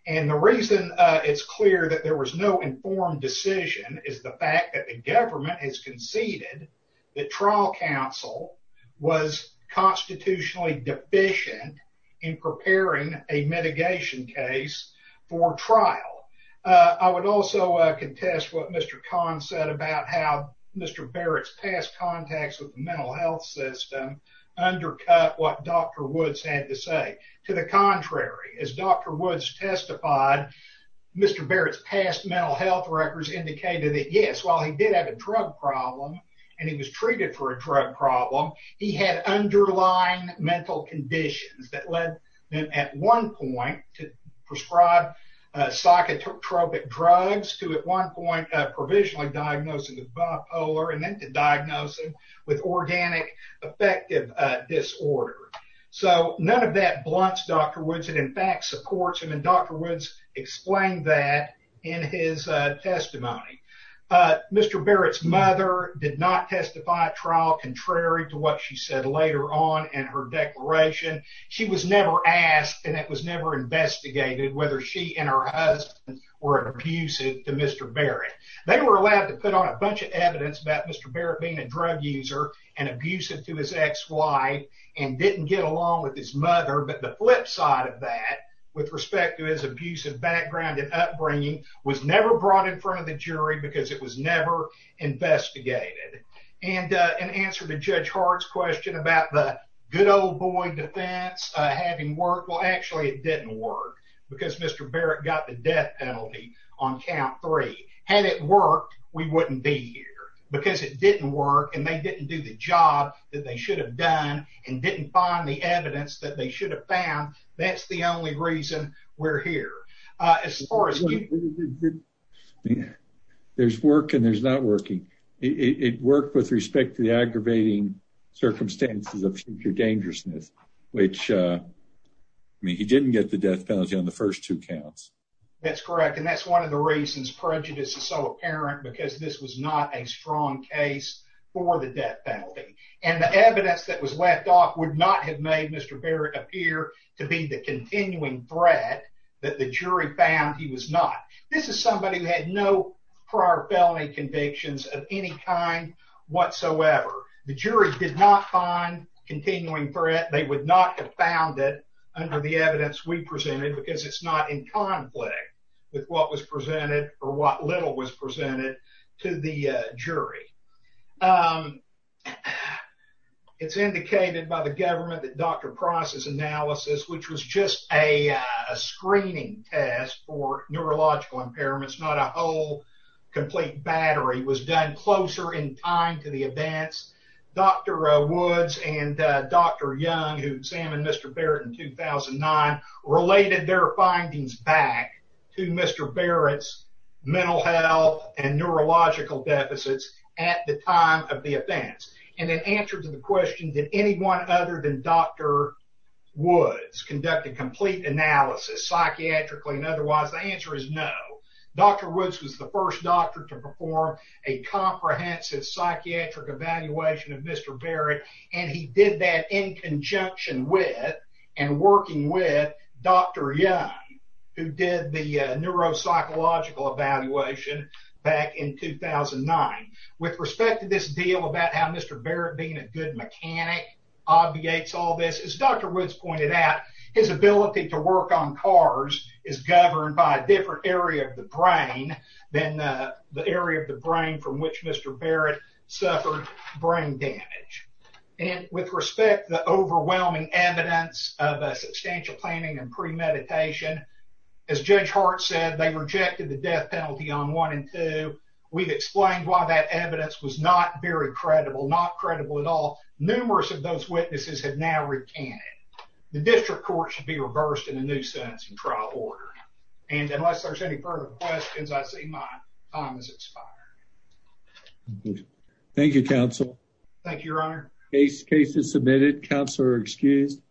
and the reason it's clear that there was no informed decision is the fact that the government has conceded that trial counsel was constitutionally deficient in preparing a mitigation case for trial. Uh, I would also, uh, contest what Mr. Khan said about how Mr. Barrett's past contacts with the mental health system undercut what Dr. Woods had to say to the contrary. As Dr. Woods testified, Mr. Barrett's past mental health records indicated that yes, while he did have a drug problem and he was treated for a drug problem, he had underlying mental conditions that led them at one point to prescribe psychotropic drugs to at one point provisionally diagnosed with bipolar and then to diagnose him with organic affective disorder. So none of that blunts Dr. Woods and in fact supports him. And Dr. Woods explained that in his testimony. Uh, Mr. Barrett's mother did not testify at trial contrary to what she said later on in her declaration. She was never asked and it was never investigated whether she and her husband were abusive to Mr. Barrett. They were allowed to put on a bunch of evidence about Mr. Barrett being a drug user and abusive to his ex-wife and didn't get along with his mother. But the flip side of that with respect to his abusive background and upbringing was never brought in front of the jury because it was never investigated. And an answer to Judge Hart's question about the good old boy defense having worked. Well, actually it didn't work because Mr. Barrett got the death penalty on count three. Had it worked, we wouldn't be here. Because it didn't work and they didn't do the job that they should have done and didn't find the evidence that they should have found. That's the only reason we're here. Uh, as far as. There's work and there's not working. It worked with respect to the aggravating circumstances of future dangerousness, which, uh, I mean, he didn't get the death penalty on the first two counts. That's correct. And that's one of the reasons prejudice is so apparent because this was not a strong case for the death penalty and the evidence that was left off would not have made Mr. Barrett appear to be the continuing threat that the jury found he was not. This is somebody who had no prior felony convictions of any kind whatsoever. The jury did not find continuing threat. They would not have found it under the evidence we presented because it's not in conflict with what was presented or what little was presented to the jury. Um, it's indicated by the government that Dr. Price's analysis, which was just a screening test for neurological impairments, not a whole complete battery, was done closer in time to the events. Dr. Woods and Dr. Young, who examined Mr. Barrett in 2009, related their findings back to Mr. Barrett's mental health and neurological deficits at the time of the offense. And in answer to the question, did anyone other than Dr Woods conduct a complete analysis, psychiatrically and otherwise? The answer is no. Dr. Woods was the first doctor to perform a comprehensive psychiatric evaluation of in conjunction with and working with Dr. Young, who did the neuropsychological evaluation back in 2009. With respect to this deal about how Mr. Barrett being a good mechanic obviates all this, as Dr. Woods pointed out, his ability to work on cars is governed by a different area of the brain than the area of the brain from which Mr. Barrett suffered brain damage. And with respect to the overwhelming evidence of a substantial planning and premeditation, as Judge Hart said, they rejected the death penalty on one and two. We've explained why that evidence was not very credible, not credible at all. Numerous of those witnesses have now recanted. The district court should be reversed in a new sentence and trial order. And unless there's any further questions, I see my time has expired. Thank you, counsel. Thank you, Your Honor. Case is submitted. Counsel are excused.